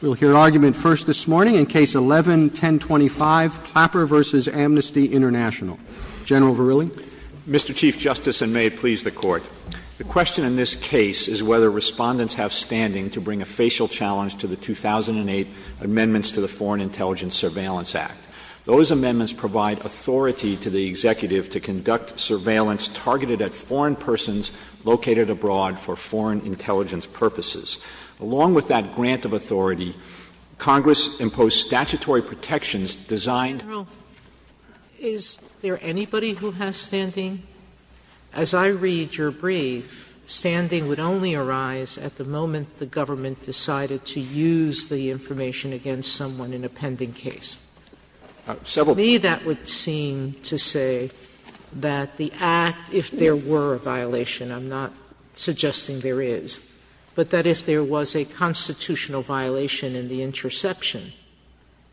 We'll hear argument first this morning in Case 11-1025, Clapper v. Amnesty International. General Verrilli. Mr. Chief Justice, and may it please the Court, the question in this case is whether respondents have standing to bring a facial challenge to the 2008 amendments to the Foreign Intelligence Surveillance Act. Those amendments provide authority to the executive to conduct surveillance targeted at foreign persons located abroad for foreign intelligence purposes. Along with that grant of authority, Congress imposed statutory protections designed— General, is there anybody who has standing? As I read your brief, standing would only arise at the moment the government decided to use the information against someone in a pending case. Several— But to me that would seem to say that the act, if there were a violation, I'm not suggesting there is, but that if there was a constitutional violation in the interception,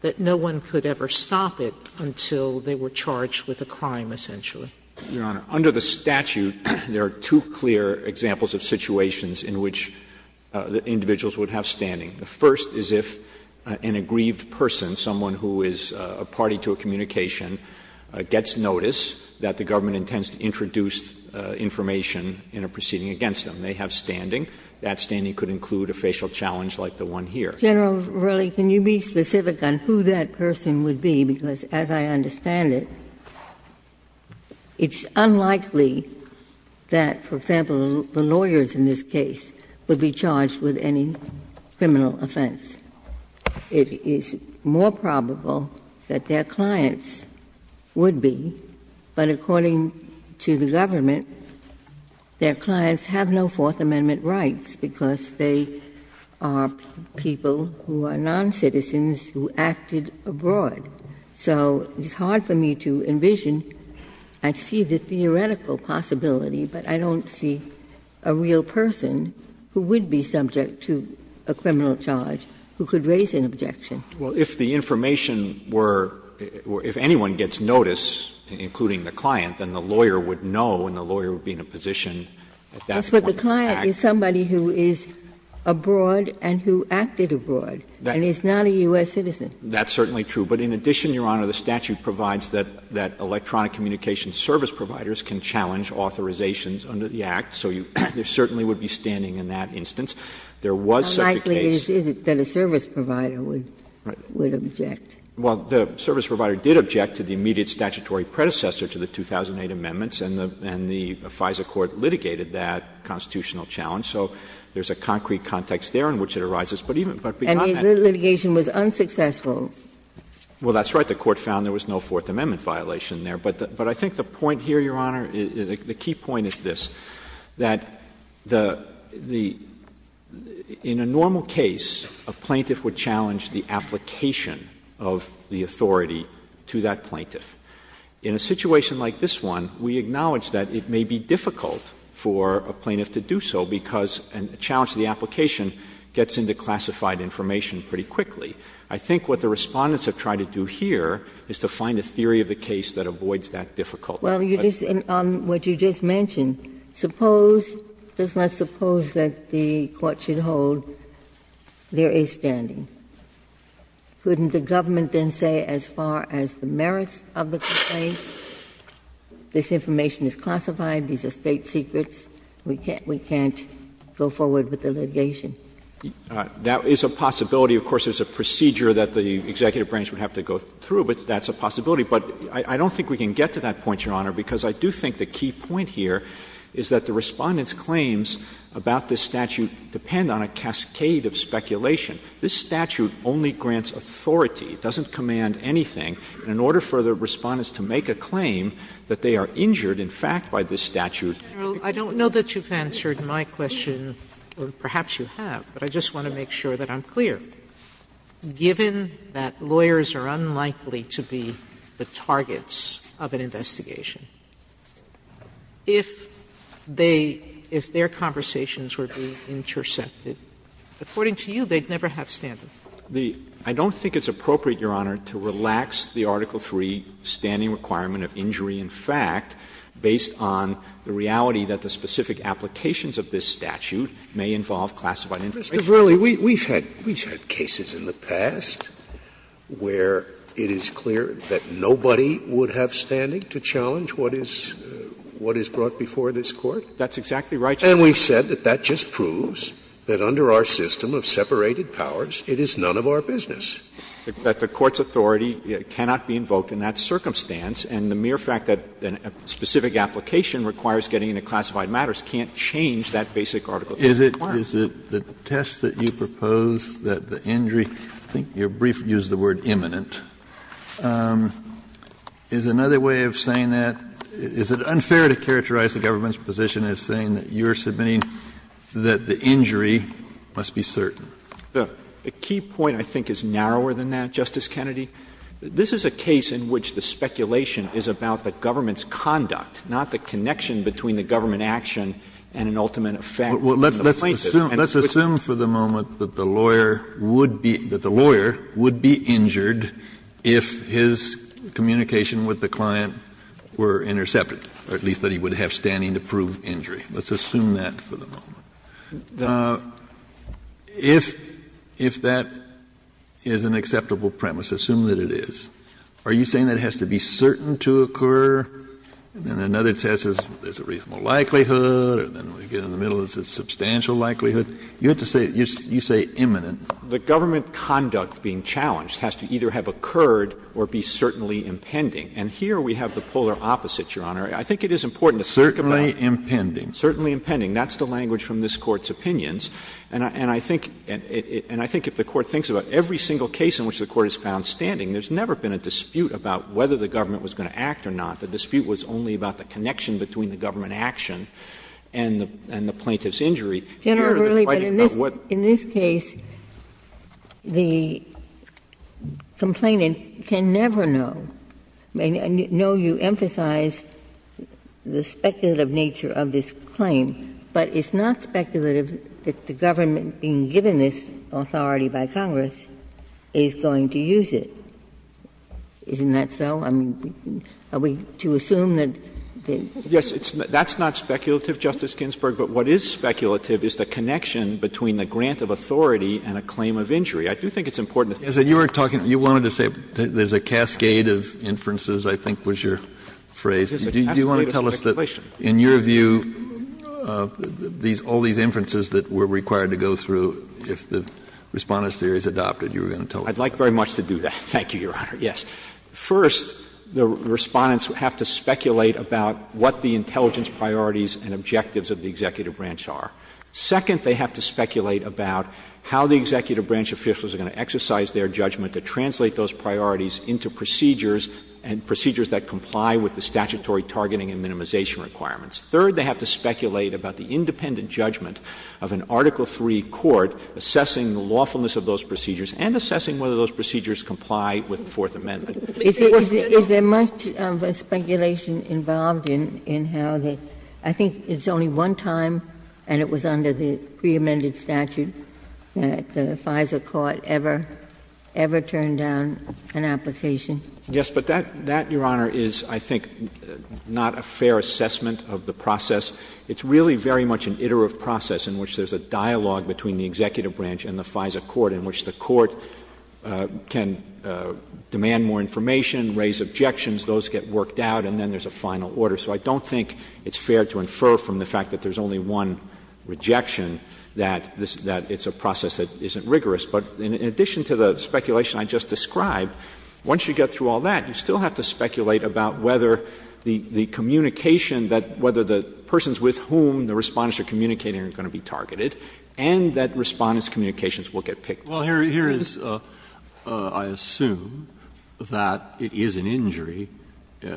that no one could ever stop it until they were charged with a crime, essentially. Your Honor, under the statute, there are two clear examples of situations in which individuals would have standing. The first is if an aggrieved person, someone who is a party to a communication, gets notice that the government intends to introduce information in a proceeding against them. They have standing. That standing could include a facial challenge like the one here. General Verrilli, can you be specific on who that person would be? Because as I understand it, it's unlikely that, for example, the lawyers in this case would be charged with any criminal offense. It is more probable that their clients would be, but according to the government, their clients have no Fourth Amendment rights because they are people who are noncitizens who acted abroad. So it's hard for me to envision. I see the theoretical possibility, but I don't see a real person who would be subject to a criminal charge who could raise an objection. Well, if the information were or if anyone gets notice, including the client, then the lawyer would know and the lawyer would be in a position at that point to act. But the client is somebody who is abroad and who acted abroad and is not a U.S. citizen. That's certainly true. But in addition, Your Honor, the statute provides that electronic communications service providers can challenge authorizations under the Act, so you certainly would be standing in that instance. There was such a case. How likely is it that a service provider would object? Well, the service provider did object to the immediate statutory predecessor to the 2008 amendments, and the FISA court litigated that constitutional challenge. So there is a concrete context there in which it arises, but even beyond that. The litigation was unsuccessful. Well, that's right. The Court found there was no Fourth Amendment violation there. But I think the point here, Your Honor, the key point is this, that the — in a normal case, a plaintiff would challenge the application of the authority to that plaintiff. In a situation like this one, we acknowledge that it may be difficult for a plaintiff to do so because a challenge to the application gets into classified information pretty quickly. I think what the Respondents have tried to do here is to find a theory of the case that avoids that difficulty. Well, you just — what you just mentioned, suppose — does not suppose that the court should hold there is standing. Couldn't the government then say as far as the merits of the complaint, this information is classified, these are State secrets? We can't go forward with the litigation. That is a possibility. Of course, there is a procedure that the executive branch would have to go through, but that's a possibility. But I don't think we can get to that point, Your Honor, because I do think the key point here is that the Respondents' claims about this statute depend on a cascade of speculation. This statute only grants authority. It doesn't command anything. And in order for the Respondents to make a claim that they are injured, in fact, by this statute. Sotomayor, I don't know that you've answered my question, or perhaps you have, but I just want to make sure that I'm clear. Given that lawyers are unlikely to be the targets of an investigation, if they — if their conversations were to be intercepted, according to you, they'd never have standing. I don't think it's appropriate, Your Honor, to relax the Article III standing requirement of injury in fact, based on the reality that the specific applications of this statute may involve classified information. Scalia, we've had cases in the past where it is clear that nobody would have standing to challenge what is brought before this Court. That's exactly right, Your Honor. And we've said that that just proves that under our system of separated powers, it is none of our business. But the Court's authority cannot be invoked in that circumstance, and the mere fact that a specific application requires getting into classified matters can't change that basic Article III requirement. Kennedy, is it the test that you propose that the injury — I think your brief used the word imminent. Is another way of saying that, is it unfair to characterize the government's position as saying that you're submitting that the injury must be certain? The key point, I think, is narrower than that, Justice Kennedy. This is a case in which the speculation is about the government's conduct, not the connection between the government action and an ultimate effect. Kennedy, let's assume for the moment that the lawyer would be — that the lawyer would be injured if his communication with the client were intercepted, or at least that he would have standing to prove injury. Let's assume that for the moment. If that is an acceptable premise, assume that it is, are you saying that it has to be certain to occur, and then another test is there's a reasonable likelihood, or then we get in the middle and it's a substantial likelihood? You have to say — you say imminent. The government conduct being challenged has to either have occurred or be certainly impending. And here we have the polar opposite, Your Honor. I think it is important to think about it. Certainly impending. Certainly impending. That's the language from this Court's opinions. And I think — and I think if the Court thinks about every single case in which the Court has found standing, there's never been a dispute about whether the government was going to act or not. The dispute was only about the connection between the government action and the plaintiff's Here, the fighting about what the plaintiff's injury has to do with the plaintiff's injury. Ginsburg, in this case, the complainant can never know. I know you emphasize the speculative nature of this claim, but it's not speculative that the government being given this authority by Congress is going to use it. Isn't that so? I mean, are we to assume that the — Yes. That's not speculative, Justice Ginsburg. But what is speculative is the connection between the grant of authority and a claim of injury. I do think it's important to think about it. Kennedy, as you were talking, you wanted to say there's a cascade of inferences, I think was your phrase. Do you want to tell us that, in your view, these — all these inferences that we're required to go through, if the Respondent's Theory is adopted, you were going to tell us that? I'd like very much to do that. Thank you, Your Honor. Yes. First, the Respondents have to speculate about what the intelligence priorities and objectives of the executive branch are. Second, they have to speculate about how the executive branch officials are going to exercise their judgment to translate those priorities into procedures and procedures that comply with the statutory targeting and minimization requirements. Third, they have to speculate about the independent judgment of an Article III court assessing the lawfulness of those procedures and assessing whether those procedures comply with the Fourth Amendment. Is there much speculation involved in how the — I think it's only one time, and it was under the preamended statute, that the FISA court ever turned down an application? Yes. But that, Your Honor, is, I think, not a fair assessment of the process. It's really very much an iterative process in which there's a dialogue between the executive branch and the FISA court in which the court can demand more information, raise objections, those get worked out, and then there's a final order. So I don't think it's fair to infer from the fact that there's only one rejection that this — that it's a process that isn't rigorous. But in addition to the speculation I just described, once you get through all that, you still have to speculate about whether the communication that — whether the persons with whom the Respondents are communicating are going to be targeted, and that Respondents' communications will get picked. Breyer, here is, I assume, that it is an injury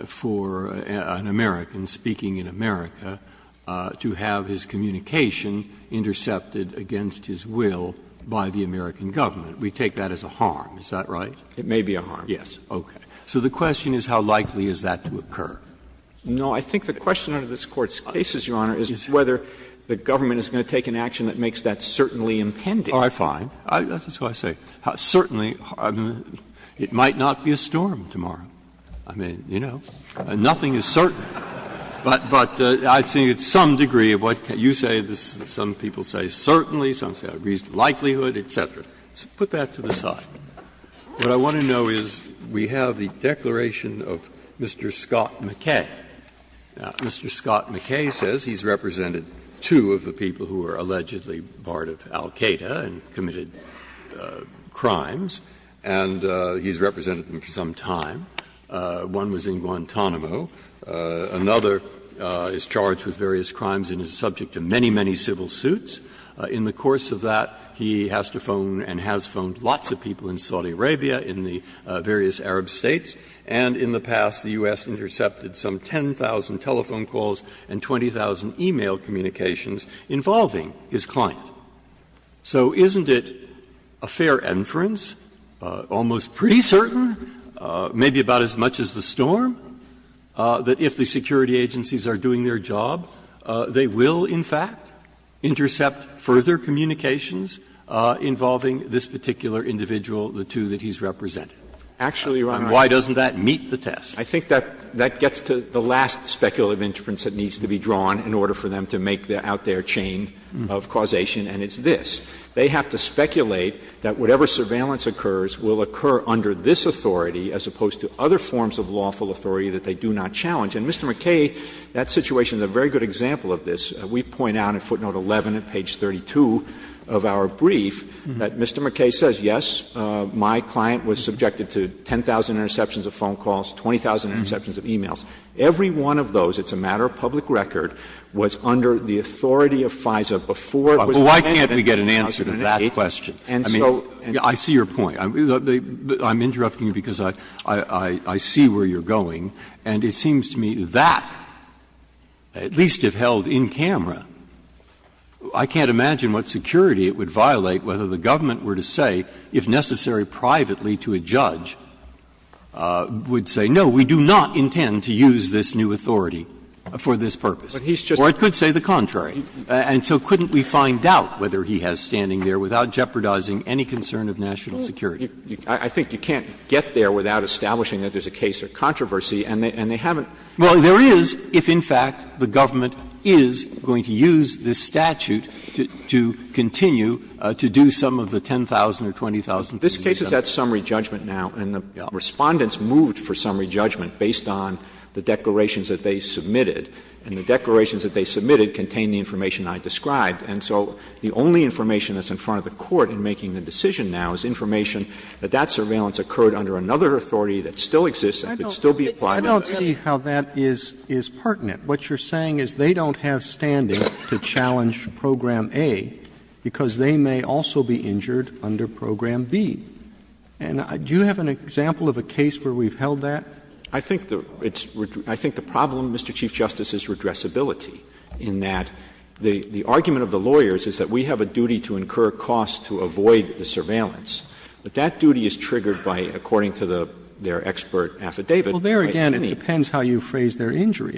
for an American speaking in America to have his communication intercepted against his will by the American government. We take that as a harm, is that right? It may be a harm, yes. Okay. So the question is, how likely is that to occur? No, I think the question under this Court's cases, Your Honor, is whether the government is going to take an action that makes that certainly impending. Oh, I find. That's what I say. Certainly, it might not be a storm tomorrow. I mean, you know, nothing is certain. But I think it's some degree of what you say, some people say certainly, some say a reasonable likelihood, et cetera. So put that to the side. What I want to know is, we have the declaration of Mr. Scott McKay. Now, Mr. Scott McKay says he's represented two of the people who are allegedly part of al-Qaeda and committed crimes, and he's represented them for some time. One was in Guantanamo. Another is charged with various crimes and is subject to many, many civil suits. In the course of that, he has to phone and has phoned lots of people in Saudi Arabia, in the various Arab states, and in the past the U.S. intercepted some 10,000 telephone calls and 20,000 e-mail communications involving his client. So isn't it a fair inference, almost pretty certain, maybe about as much as the storm, that if the security agencies are doing their job, they will, in fact, intercept further communications involving this particular individual, the two that he's represented? Actually, Your Honor, I think that gets to the last speculative interpretation that needs to be drawn in order for them to make the out-there chain of causation, and it's this. They have to speculate that whatever surveillance occurs will occur under this authority as opposed to other forms of lawful authority that they do not challenge. And Mr. McKay, that situation is a very good example of this. We point out in footnote 11 at page 32 of our brief that Mr. McKay says, yes, my client was subjected to 10,000 interceptions of phone calls, 20,000 interceptions of e-mails. Every one of those, it's a matter of public record, was under the authority of FISA before it was handed to the House of Ministers. Breyer, why can't we get an answer to that question? I mean, I see your point. I'm interrupting you because I see where you're going, and it seems to me that, at least if held in camera, I can't imagine what security it would violate whether the government were to say, if necessary privately to a judge, would say, no, we do not intend to use this new authority for this purpose. Or it could say the contrary. And so couldn't we find out whether he has standing there without jeopardizing any concern of national security? I think you can't get there without establishing that there's a case of controversy and they haven't. Well, there is if, in fact, the government is going to use this statute to continue This case is at summary judgment now, and the Respondents moved for summary judgment based on the declarations that they submitted. And the declarations that they submitted contained the information I described. And so the only information that's in front of the Court in making the decision now is information that that surveillance occurred under another authority that still exists and could still be applied. I don't see how that is pertinent. What you're saying is they don't have standing to challenge Program A because they may also be injured under Program B. And do you have an example of a case where we've held that? I think the problem, Mr. Chief Justice, is redressability, in that the argument of the lawyers is that we have a duty to incur costs to avoid the surveillance. But that duty is triggered by, according to their expert affidavit, by any Well, there again, it depends how you phrase their injury.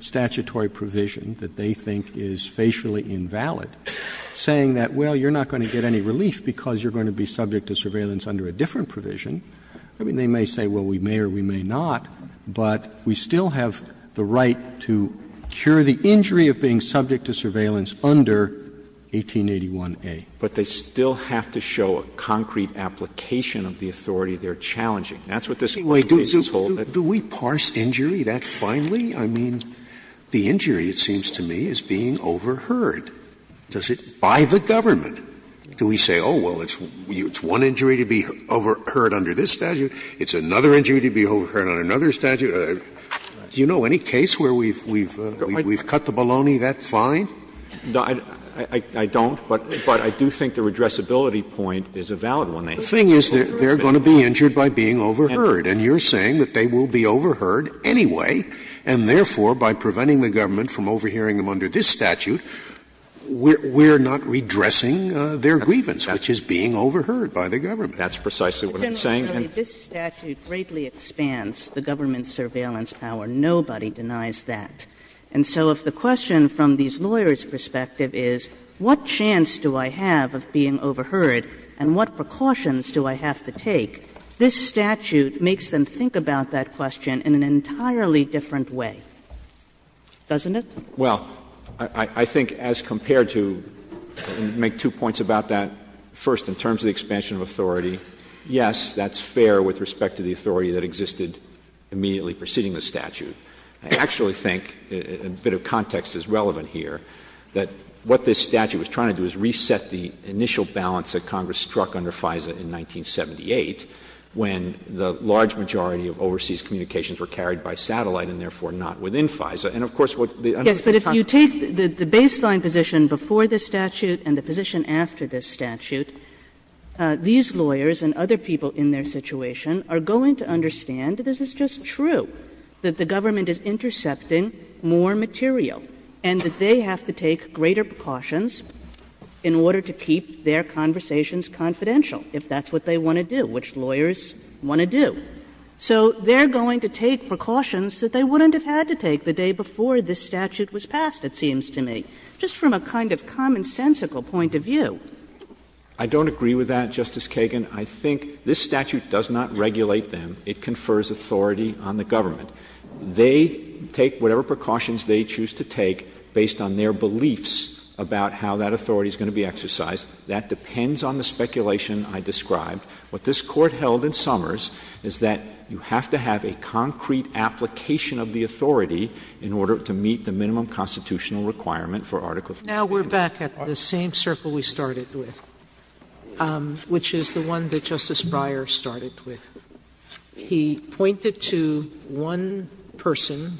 statutory provision that they think is facially invalid, saying that, well, you're not going to get any relief because you're going to be subject to surveillance under a different provision. I mean, they may say, well, we may or we may not, but we still have the right to cure the injury of being subject to surveillance under 1881a. But they still have to show a concrete application of the authority they're challenging. That's what this whole case is holding. Do we parse injury that finely? I mean, the injury, it seems to me, is being overheard. Does it by the government? Do we say, oh, well, it's one injury to be overheard under this statute, it's another injury to be overheard under another statute? Do you know any case where we've cut the baloney that fine? I don't, but I do think the redressability point is a valid one. The thing is, they're going to be injured by being overheard, and you're saying that they will be overheard anyway, and therefore, by preventing the government from overhearing them under this statute, we're not redressing their grievance, which is being overheard by the government. That's precisely what I'm saying. And so if the question from these lawyers' perspective is, what chance do I have of being overheard and what precautions do I have to take, this statute makes them think about that question in an entirely different way, doesn't it? Well, I think as compared to, and make two points about that, first, in terms of the expansion of authority, yes, that's fair with respect to the authority that existed immediately preceding the statute. I actually think, a bit of context is relevant here, that what this statute was trying to do is reset the initial balance that Congress struck under FISA in 1978, when the large majority of overseas communications were carried by satellite and therefore not within FISA. And of course, what the other thing is talking about is the fact that it's not the same thing. Kagan Yes, but if you take the baseline position before this statute and the position after this statute, these lawyers and other people in their situation are going to understand this is just true, that the government is intercepting more material, and that they have to take greater precautions in order to keep their conversations confidential, if that's what they want to do, which lawyers want to do. So they're going to take precautions that they wouldn't have had to take the day before this statute was passed, it seems to me, just from a kind of commonsensical point of view. Verrilli, I don't agree with that, Justice Kagan. I think this statute does not regulate them. It confers authority on the government. They take whatever precautions they choose to take based on their beliefs about how that authority is going to be exercised. That depends on the speculation I described. What this Court held in Summers is that you have to have a concrete application of the authority in order to meet the minimum constitutional requirement for Article III. Sotomayor Now we're back at the same circle we started with, which is the one that Justice Breyer started with. He pointed to one person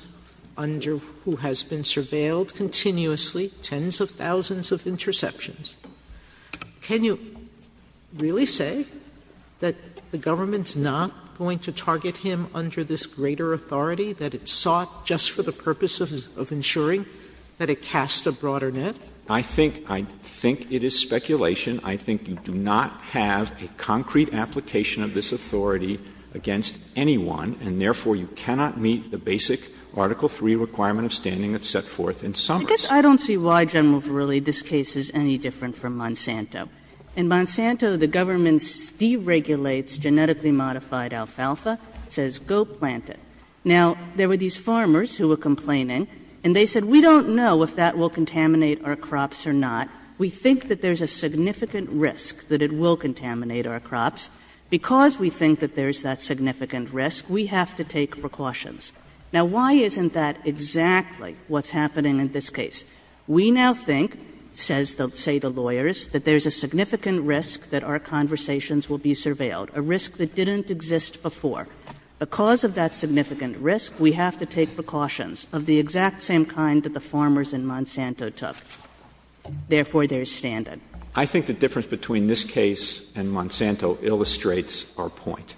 under who has been surveilled continuously, tens of thousands of interceptions. Can you really say that the government's not going to target him under this greater authority, that it sought just for the purpose of ensuring that it casts a broader net? Verrilli, I think it is speculation. I think you do not have a concrete application of this authority against anyone, and therefore you cannot meet the basic Article III requirement of standing that's set forth in Summers. Kagan I guess I don't see why, General Verrilli, this case is any different from Monsanto. In Monsanto, the government deregulates genetically modified alfalfa, says go plant it. Now, there were these farmers who were complaining, and they said, we don't know if that will contaminate our crops or not. We think that there's a significant risk that it will contaminate our crops. Because we think that there's that significant risk, we have to take precautions. Now, why isn't that exactly what's happening in this case? We now think, says, say, the lawyers, that there's a significant risk that our conversations will be surveilled, a risk that didn't exist before. Because of that significant risk, we have to take precautions of the exact same kind that the farmers in Monsanto took. Therefore, there is standing. Verrilli, I think the difference between this case and Monsanto illustrates our point.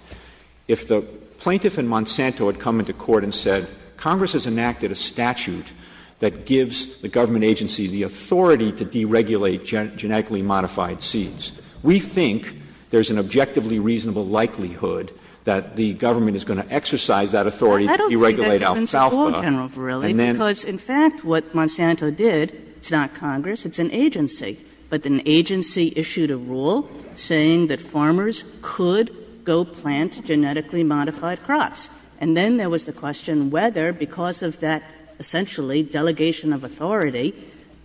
If the plaintiff in Monsanto had come into court and said, Congress has enacted a statute that gives the government agency the authority to deregulate genetically modified seeds, we think there's an objectively reasonable likelihood that the government is going to exercise that authority to deregulate alfalfa. Kagan. Well, I don't see that difference at all, General Verrilli, because in fact what Monsanto did, it's not Congress, it's an agency. But an agency issued a rule saying that farmers could go plant genetically modified crops. And then there was the question whether, because of that essentially delegation of authority,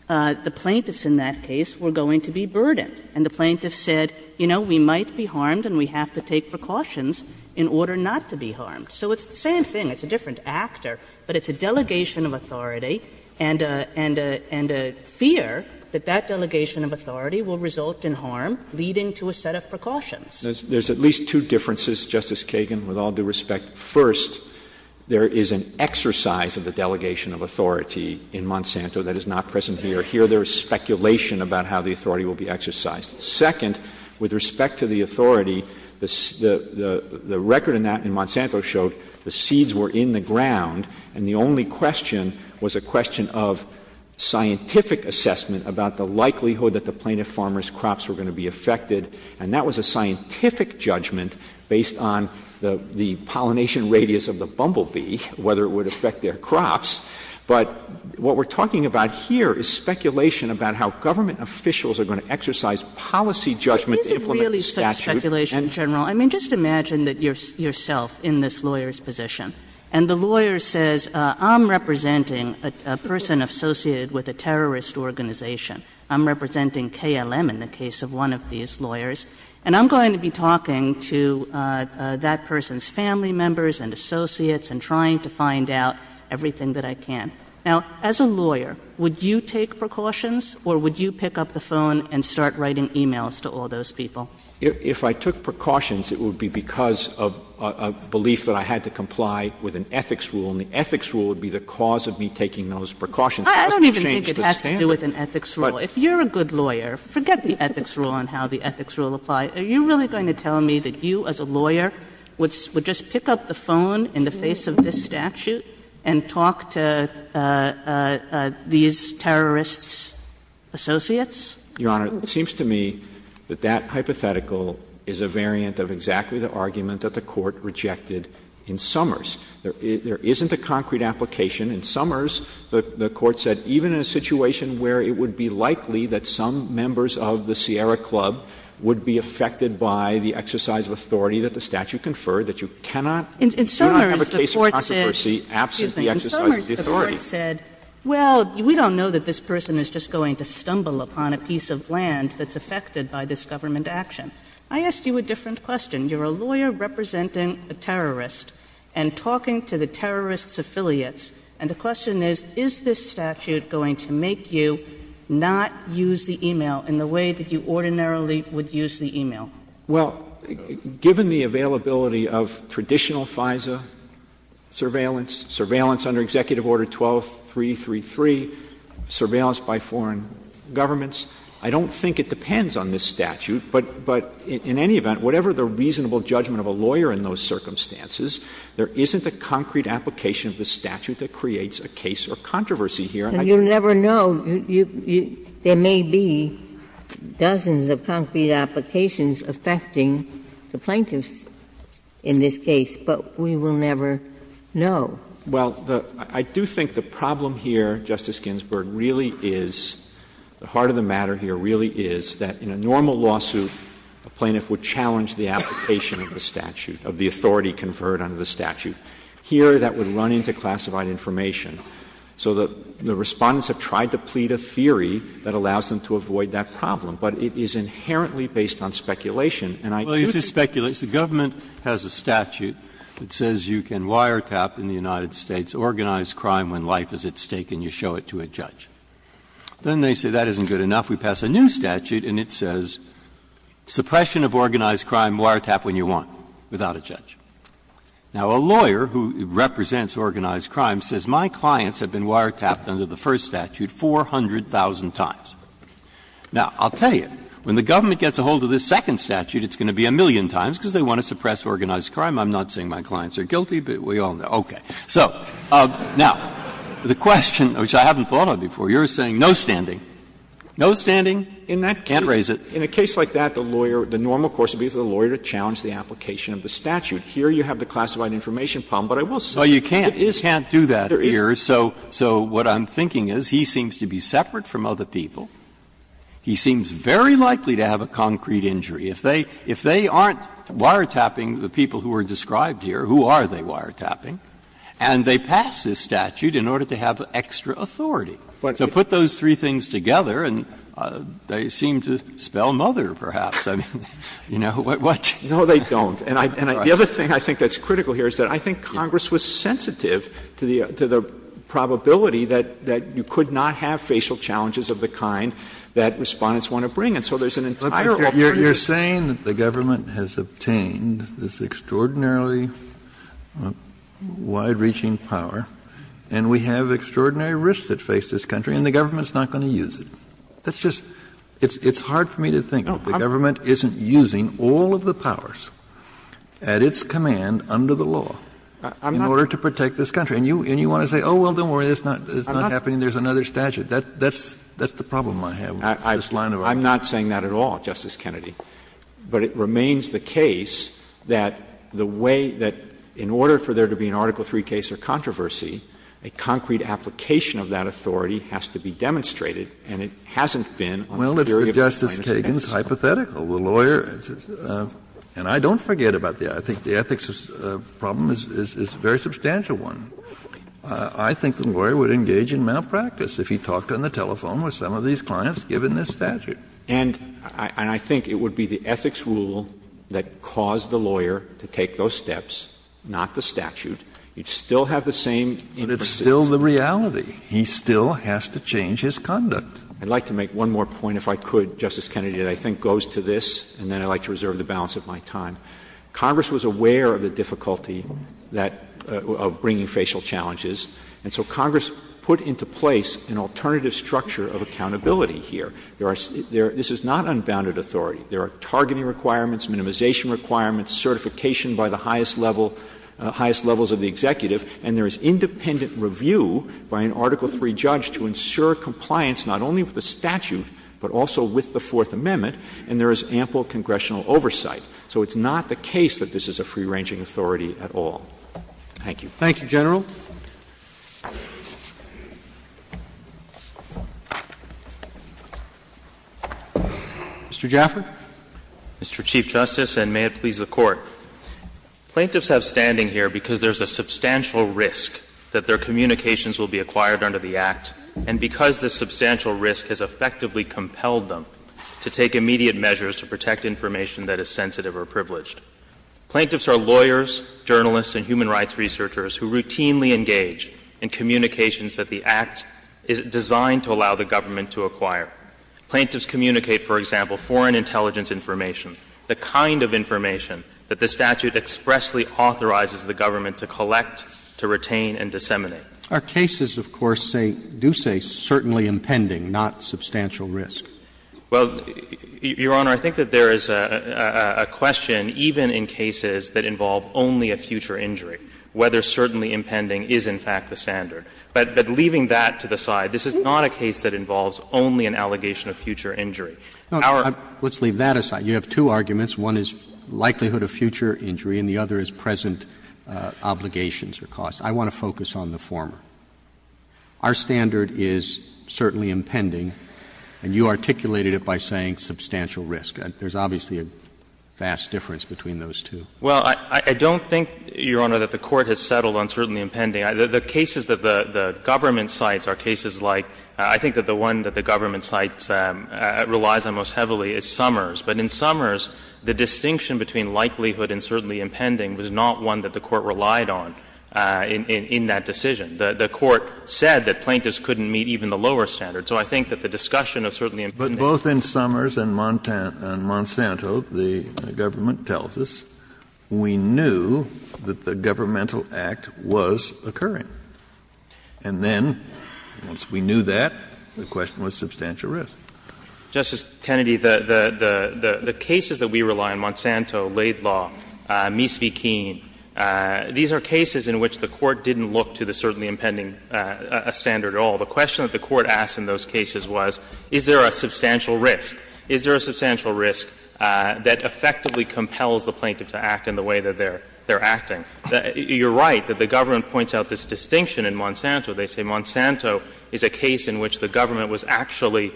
the plaintiffs in that case were going to be burdened. And the plaintiffs said, you know, we might be harmed and we have to take precautions in order not to be harmed. So it's the same thing. It's a different actor. But it's a delegation of authority and a fear that that delegation of authority will result in harm, leading to a set of precautions. Verrilli, There's at least two differences, Justice Kagan, with all due respect. First, there is an exercise of the delegation of authority in Monsanto that is not present here. Here there is speculation about how the authority will be exercised. Second, with respect to the authority, the record in Monsanto showed the seeds were planted in the ground, and the only question was a question of scientific assessment about the likelihood that the plaintiff farmer's crops were going to be affected. And that was a scientific judgment based on the pollination radius of the bumblebee, whether it would affect their crops. But what we're talking about here is speculation about how government officials Kagan. And the lawyer says, I'm representing a person associated with a terrorist organization. I'm representing KLM in the case of one of these lawyers. And I'm going to be talking to that person's family members and associates and trying to find out everything that I can. Now, as a lawyer, would you take precautions or would you pick up the phone and start writing emails to all those people? If I took precautions, it would be because of a belief that I had to comply with an ethics rule, and the ethics rule would be the cause of me taking those precautions. I don't even think it has to do with an ethics rule. If you're a good lawyer, forget the ethics rule and how the ethics rule applies. Are you really going to tell me that you, as a lawyer, would just pick up the phone in the face of this statute and talk to these terrorists' associates? Your Honor, it seems to me that that hypothetical is a variant of exactly the argument that the Court rejected in Summers. There isn't a concrete application. In Summers, the Court said even in a situation where it would be likely that some members of the Sierra Club would be affected by the exercise of authority that the statute conferred, that you cannot have a case of controversy absent the exercise of the authority. The Court said, well, we don't know that this person is just going to stumble upon a piece of land that's affected by this government action. I asked you a different question. You're a lawyer representing a terrorist and talking to the terrorist's affiliates. And the question is, is this statute going to make you not use the email in the way that you ordinarily would use the email? Well, given the availability of traditional FISA surveillance, surveillance under Executive Order 12333, surveillance by foreign governments, I don't think it depends on this statute, but in any event, whatever the reasonable judgment of a lawyer in those circumstances, there isn't a concrete application of the statute that creates a case of controversy here. And you'll never know. There may be dozens of concrete applications affecting the plaintiffs in this case, but we will never know. Well, I do think the problem here, Justice Ginsburg, really is, the heart of the matter here really is that in a normal lawsuit, a plaintiff would challenge the application of the statute, of the authority conferred under the statute. Here, that would run into classified information. So the Respondents have tried to plead a theory that allows them to avoid that problem, but it is inherently based on speculation. that you ordinarily would use the email. Breyer. Well, this is speculation. The government has a statute that says you can wiretap in the United States organized crime when life is at stake and you show it to a judge. Then they say that isn't good enough. We pass a new statute and it says suppression of organized crime, wiretap when you want, without a judge. Now, a lawyer who represents organized crime says my clients have been wiretapped under the first statute 400,000 times. Now, I'll tell you, when the government gets a hold of this second statute, it's going to be a million times because they want to suppress organized crime. I'm not saying my clients are guilty, but we all know. Okay. So now, the question, which I haven't thought of before, you're saying no standing. No standing. You can't raise it. In a case like that, the lawyer, the normal course would be for the lawyer to challenge the application of the statute. Here, you have the classified information problem, but I will say that it is. Breyer. Well, you can't do that here. So what I'm thinking is he seems to be separate from other people. He seems very likely to have a concrete injury. If they aren't wiretapping the people who are described here, who are they wiretapping? And they pass this statute in order to have extra authority. So put those three things together and they seem to spell mother, perhaps. I mean, you know, what? No, they don't. And the other thing I think that's critical here is that I think Congress was sensitive to the probability that you could not have facial challenges of the kind that Respondents want to bring. And so there's an entire alternative. Kennedy. You're saying that the government has obtained this extraordinarily wide-reaching power, and we have extraordinary risks that face this country, and the government's not going to use it. That's just — it's hard for me to think that the government isn't using all of the power at its command under the law in order to protect this country. And you want to say, oh, well, don't worry, it's not happening, there's another statute. That's the problem I have with this line of argument. I'm not saying that at all, Justice Kennedy. But it remains the case that the way that in order for there to be an Article III case or controversy, a concrete application of that authority has to be demonstrated, and it hasn't been on the jury of the plaintiffs. Well, it's the Justice Kagan's hypothetical. The lawyer — and I don't forget about the — I think the ethics problem is a very substantial one. I think the lawyer would engage in malpractice if he talked on the telephone with some of these clients given this statute. And I think it would be the ethics rule that caused the lawyer to take those steps, not the statute. You'd still have the same interests. But it's still the reality. He still has to change his conduct. I'd like to make one more point, if I could, Justice Kennedy, that I think goes to this and then I'd like to reserve the balance of my time. Congress was aware of the difficulty that — of bringing facial challenges. And so Congress put into place an alternative structure of accountability here. There are — this is not unbounded authority. There are targeting requirements, minimization requirements, certification by the highest level — highest levels of the executive, and there is independent review by an Article III judge to ensure compliance not only with the statute, but also with the Fourth Amendment. And there is ample congressional oversight. So it's not the case that this is a free-ranging authority at all. Thank you. Roberts. Thank you, General. Mr. Jaffer. Mr. Chief Justice, and may it please the Court. Plaintiffs have standing here because there's a substantial risk that their communications will be acquired under the Act, and because this substantial risk has effectively compelled them to take immediate measures to protect information that is sensitive or privileged. Plaintiffs are lawyers, journalists, and human rights researchers who routinely engage in communications that the Act is designed to allow the government to acquire. Plaintiffs communicate, for example, foreign intelligence information, the kind of information that the statute expressly authorizes the government to collect, to retain, and disseminate. Our cases, of course, say do say certainly impending, not substantial risk. Well, Your Honor, I think that there is a question, even in cases that involve only a future injury, whether certainly impending is, in fact, the standard. But leaving that to the side, this is not a case that involves only an allegation of future injury. Let's leave that aside. You have two arguments. I want to focus on the former. Our standard is certainly impending, and you articulated it by saying substantial risk. There's obviously a vast difference between those two. Well, I don't think, Your Honor, that the Court has settled on certainly impending. The cases that the government cites are cases like — I think that the one that the government cites, relies on most heavily is Summers. But in Summers, the distinction between likelihood and certainly impending was not one that the Court relied on in that decision. The Court said that plaintiffs couldn't meet even the lower standard. So I think that the discussion of certainly impending— But both in Summers and Monsanto, the government tells us we knew that the governmental act was occurring. And then, once we knew that, the question was substantial risk. Justice Kennedy, the cases that we rely on, Monsanto, Laidlaw, Mies v. Keene, these are cases in which the Court didn't look to the certainly impending standard at all. The question that the Court asked in those cases was, is there a substantial risk? Is there a substantial risk that effectively compels the plaintiff to act in the way that they're acting? You're right that the government points out this distinction in Monsanto. They say Monsanto is a case in which the government was actually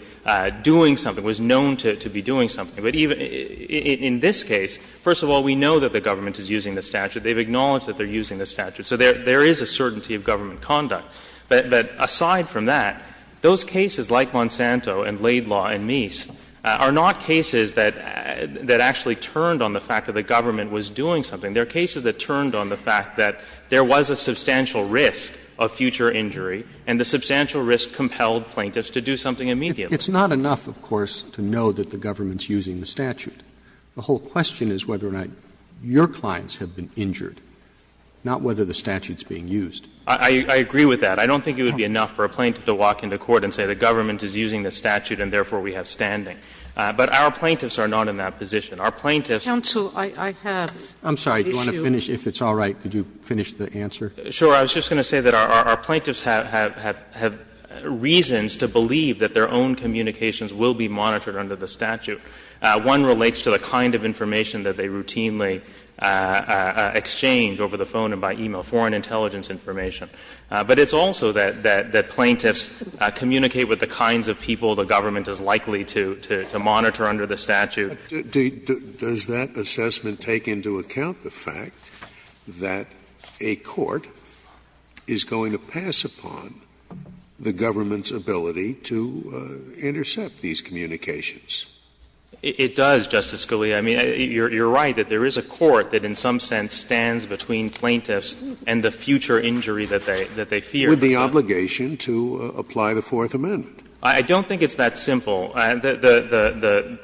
doing something, was known to be doing something. But even in this case, first of all, we know that the government is using the statute. They've acknowledged that they're using the statute. So there is a certainty of government conduct. But aside from that, those cases like Monsanto and Laidlaw and Mies are not cases that actually turned on the fact that the government was doing something. They're cases that turned on the fact that there was a substantial risk of future injury, and the substantial risk compelled plaintiffs to do something immediately. Roberts. It's not enough, of course, to know that the government is using the statute. The whole question is whether or not your clients have been injured, not whether the statute is being used. I agree with that. I don't think it would be enough for a plaintiff to walk into court and say the government is using the statute and therefore we have standing. But our plaintiffs are not in that position. Our plaintiffs' Counsel, I have an issue. I'm sorry. Do you want to finish? If it's all right, could you finish the answer? Sure. I was just going to say that our plaintiffs have reasons to believe that their own communications will be monitored under the statute. One relates to the kind of information that they routinely exchange over the phone and by e-mail, foreign intelligence information. But it's also that plaintiffs communicate with the kinds of people the government is likely to monitor under the statute. Scalia. Does that assessment take into account the fact that a court is going to pass upon the government's ability to intercept these communications? It does, Justice Scalia. I mean, you're right that there is a court that in some sense stands between plaintiffs and the future injury that they fear. With the obligation to apply the Fourth Amendment. I don't think it's that simple. The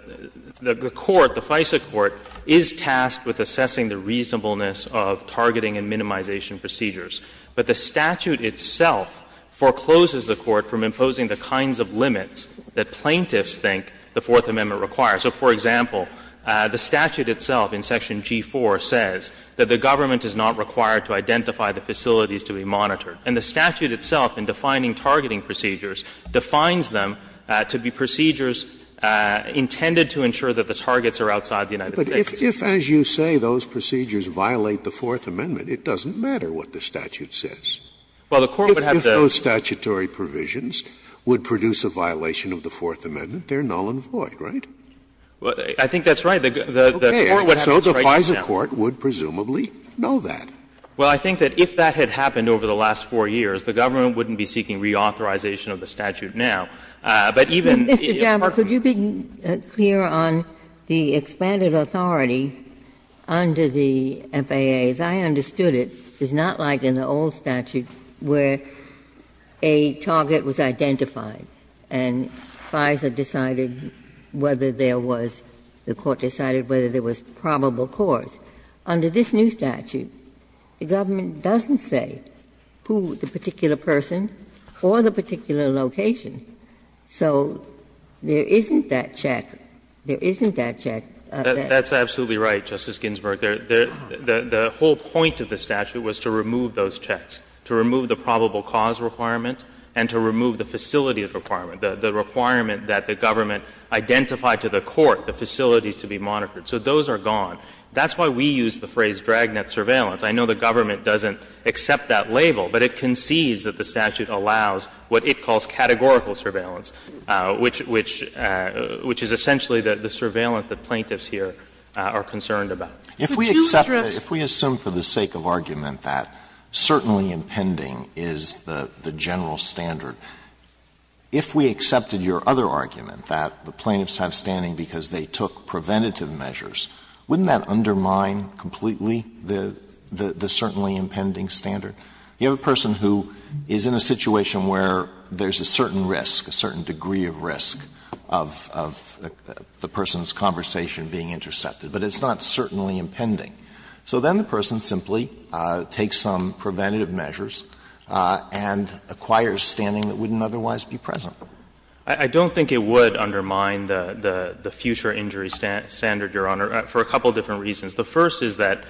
court, the FISA court, is tasked with assessing the reasonableness of targeting and minimization procedures. But the statute itself forecloses the court from imposing the kinds of limits that plaintiffs think the Fourth Amendment requires. So, for example, the statute itself in section G4 says that the government is not required to identify the facilities to be monitored. And the statute itself in defining targeting procedures defines them to be procedures intended to ensure that the targets are outside the United States. But if, as you say, those procedures violate the Fourth Amendment, it doesn't matter what the statute says. Well, the court would have to If those statutory provisions would produce a violation of the Fourth Amendment, they're null and void, right? I think that's right. The court would have to strike that down. Okay. So the FISA court would presumably know that. Well, I think that if that had happened over the last 4 years, the government wouldn't be seeking reauthorization of the statute now. But even if it were to be reauthorized, the court would have to strike that down. Ginsburg. But, Mr. Jaffer, could you be clear on the expanded authority under the FAA? As I understood it, it's not like in the old statute where a target was identified and FISA decided whether there was the court decided whether there was probable cause. Under this new statute, the government doesn't say who the particular person or the particular location. So there isn't that check. There isn't that check. That's absolutely right, Justice Ginsburg. The whole point of the statute was to remove those checks, to remove the probable cause requirement and to remove the facility requirement, the requirement that the government identified to the court the facilities to be monitored. So those are gone. That's why we use the phrase dragnet surveillance. I know the government doesn't accept that label, but it concedes that the statute allows what it calls categorical surveillance, which — which is essentially the surveillance that plaintiffs here are concerned about. If we accept that, if we assume for the sake of argument that certainly impending is the general standard, if we accepted your other argument that the plaintiffs have standing because they took preventative measures, wouldn't that undermine completely the certainly impending standard? You have a person who is in a situation where there's a certain risk, a certain degree of risk of the person's conversation being intercepted, but it's not certainly impending. So then the person simply takes some preventative measures and acquires standing that wouldn't otherwise be present. I don't think it would undermine the future injury standard, Your Honor, for a couple different reasons. The first is that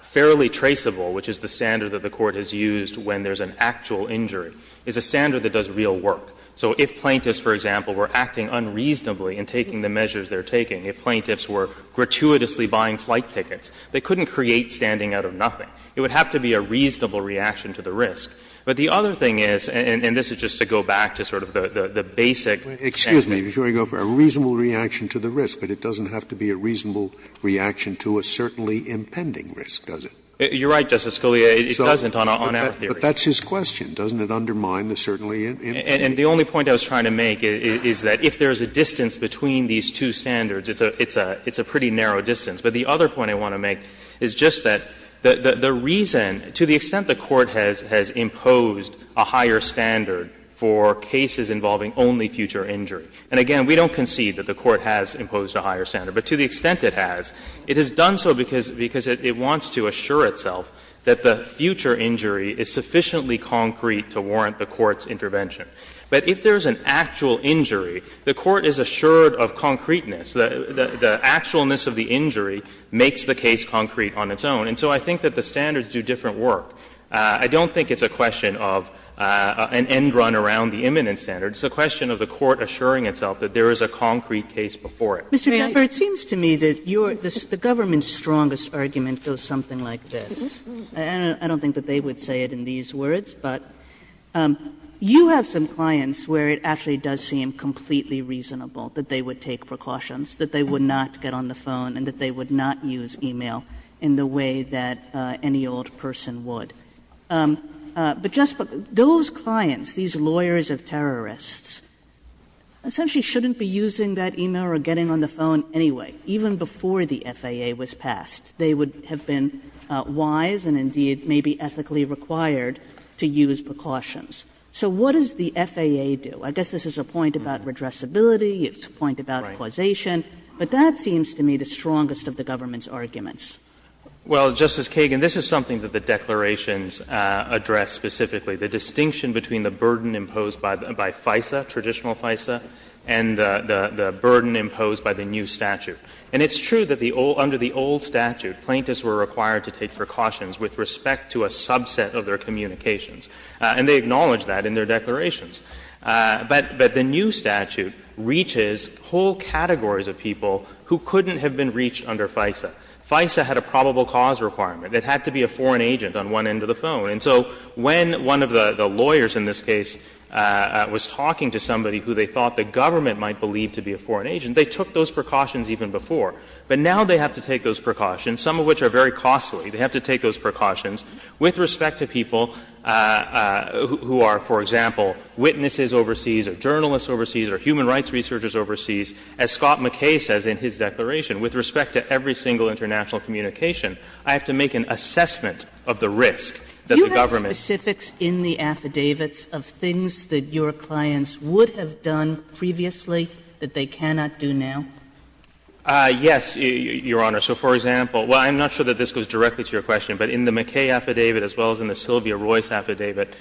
fairly traceable, which is the standard that the Court has used when there's an actual injury, is a standard that does real work. So if plaintiffs, for example, were acting unreasonably in taking the measures they're taking, if plaintiffs were gratuitously buying flight tickets, they couldn't create standing out of nothing. It would have to be a reasonable reaction to the risk. But the other thing is, and this is just to go back to sort of the basic standard. Scalia, but it doesn't have to be a reasonable reaction to a certainly impending risk, does it? You're right, Justice Scalia, it doesn't on our theory. But that's his question, doesn't it undermine the certainly impending? And the only point I was trying to make is that if there's a distance between these two standards, it's a pretty narrow distance. But the other point I want to make is just that the reason, to the extent the Court has imposed a higher standard for cases involving only future injury, and again, we don't concede that the Court has imposed a higher standard, but to the extent it has, it has done so because it wants to assure itself that the future injury is sufficiently concrete to warrant the Court's intervention. But if there's an actual injury, the Court is assured of concreteness. The actualness of the injury makes the case concrete on its own. And so I think that the standards do different work. I don't think it's a question of an end run around the imminent standard, it's a question of the Court assuring itself that there is a concrete case before it. Sotomayor, it seems to me that the Government's strongest argument goes something like this. I don't think that they would say it in these words, but you have some clients where it actually does seem completely reasonable that they would take precautions, that they would not get on the phone and they would not use e-mail in the way that any old person would. But just those clients, these lawyers of terrorists, essentially shouldn't be using that e-mail or getting on the phone anyway, even before the FAA was passed. They would have been wise and indeed maybe ethically required to use precautions. So what does the FAA do? I guess this is a point about redressability, it's a point about causation, but that seems to me the strongest of the Government's arguments. Well, Justice Kagan, this is something that the declarations address specifically, the distinction between the burden imposed by FISA, traditional FISA, and the burden imposed by the new statute. And it's true that under the old statute, plaintiffs were required to take precautions with respect to a subset of their communications, and they acknowledge that in their declarations. But the new statute reaches whole categories of people who couldn't have been reached under FISA. FISA had a probable cause requirement. It had to be a foreign agent on one end of the phone. And so when one of the lawyers in this case was talking to somebody who they thought the Government might believe to be a foreign agent, they took those precautions even before. But now they have to take those precautions, some of which are very costly. They have to take those precautions with respect to people who are, for example, witnesses overseas or journalists overseas or human rights researchers overseas, as Scott McKay says in his declaration. With respect to every single international communication, I have to make an assessment of the risk that the Government's. Kagan, do you have specifics in the affidavits of things that your clients would have done previously that they cannot do now? Yes, Your Honor. So, for example, well, I'm not sure that this goes directly to your question, but in the McKay affidavit as well as in the Sylvia Royce affidavit,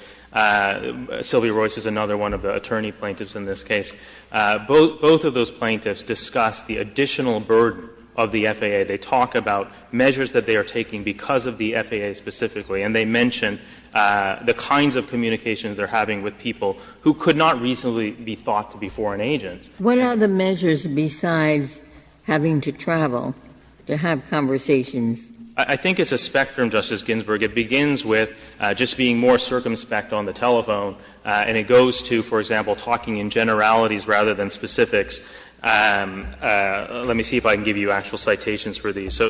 Sylvia Royce is another one of the attorney-plaintiffs in this case. Both of those plaintiffs discuss the additional burden of the FAA. They talk about measures that they are taking because of the FAA specifically, and they mention the kinds of communications they're having with people who could not reasonably be thought to be foreign agents. What are the measures besides having to travel to have conversations? I think it's a spectrum, Justice Ginsburg. It begins with just being more circumspect on the telephone, and it goes to, for example, talking in generalities rather than specifics. Let me see if I can give you actual citations for these. So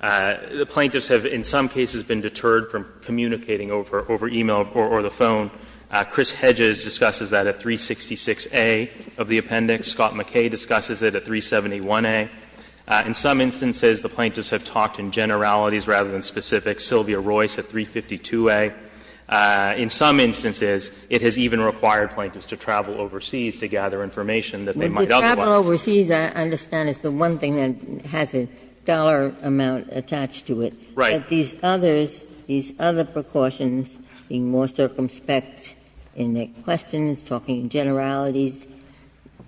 the plaintiffs have in some cases been deterred from communicating over e-mail or the phone. Chris Hedges discusses that at 366a of the appendix. Scott McKay discusses it at 371a. In some instances, the plaintiffs have talked in generalities rather than specifics. Sylvia Royce at 352a. In some instances, it has even required plaintiffs to travel overseas to gather information that they might otherwise. Ginsburg. Travel overseas, I understand, is the one thing that has a dollar amount attached to it. Right. But these others, these other precautions, being more circumspect in their questions, talking in generalities.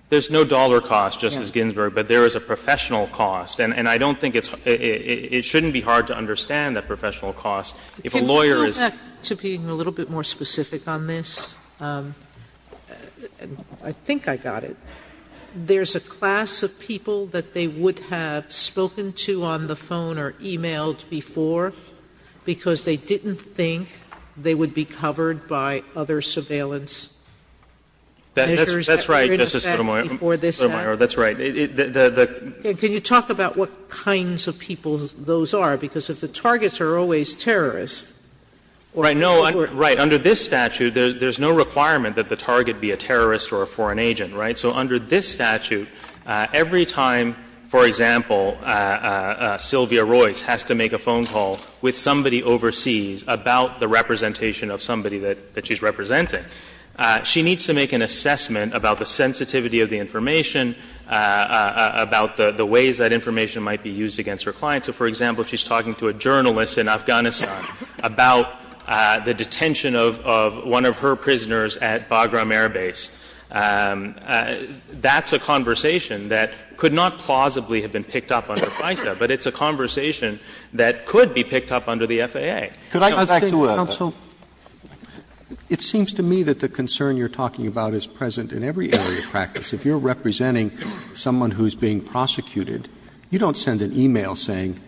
There's no dollar cost, Justice Ginsburg, but there is a professional cost. And I don't think it's – it shouldn't be hard to understand that professional cost. If a lawyer is – Sotomayor, can we go back to being a little bit more specific on this? I think I got it. There's a class of people that they would have spoken to on the phone or e-mailed before because they didn't think they would be covered by other surveillance measures that were in effect before this happened? That's right, Justice Sotomayor. That's right. Can you talk about what kinds of people those are? Because if the targets are always terrorists, or if they were – Right. Under this statute, there's no requirement that the target be a terrorist or a foreign agent, right? So under this statute, every time, for example, Sylvia Royce has to make a phone call with somebody overseas about the representation of somebody that she's representing, she needs to make an assessment about the sensitivity of the information, about the ways that information might be used against her client. So, for example, if she's talking to a journalist in Afghanistan about the detention of one of her prisoners at Bagram Air Base, that's a conversation that could not plausibly have been picked up under FISA, but it's a conversation that could be picked up under the FAA. Could I go back to a – Counsel, it seems to me that the concern you're talking about is present in every area of practice. If you're representing someone who's being prosecuted, you don't send an e-mail saying,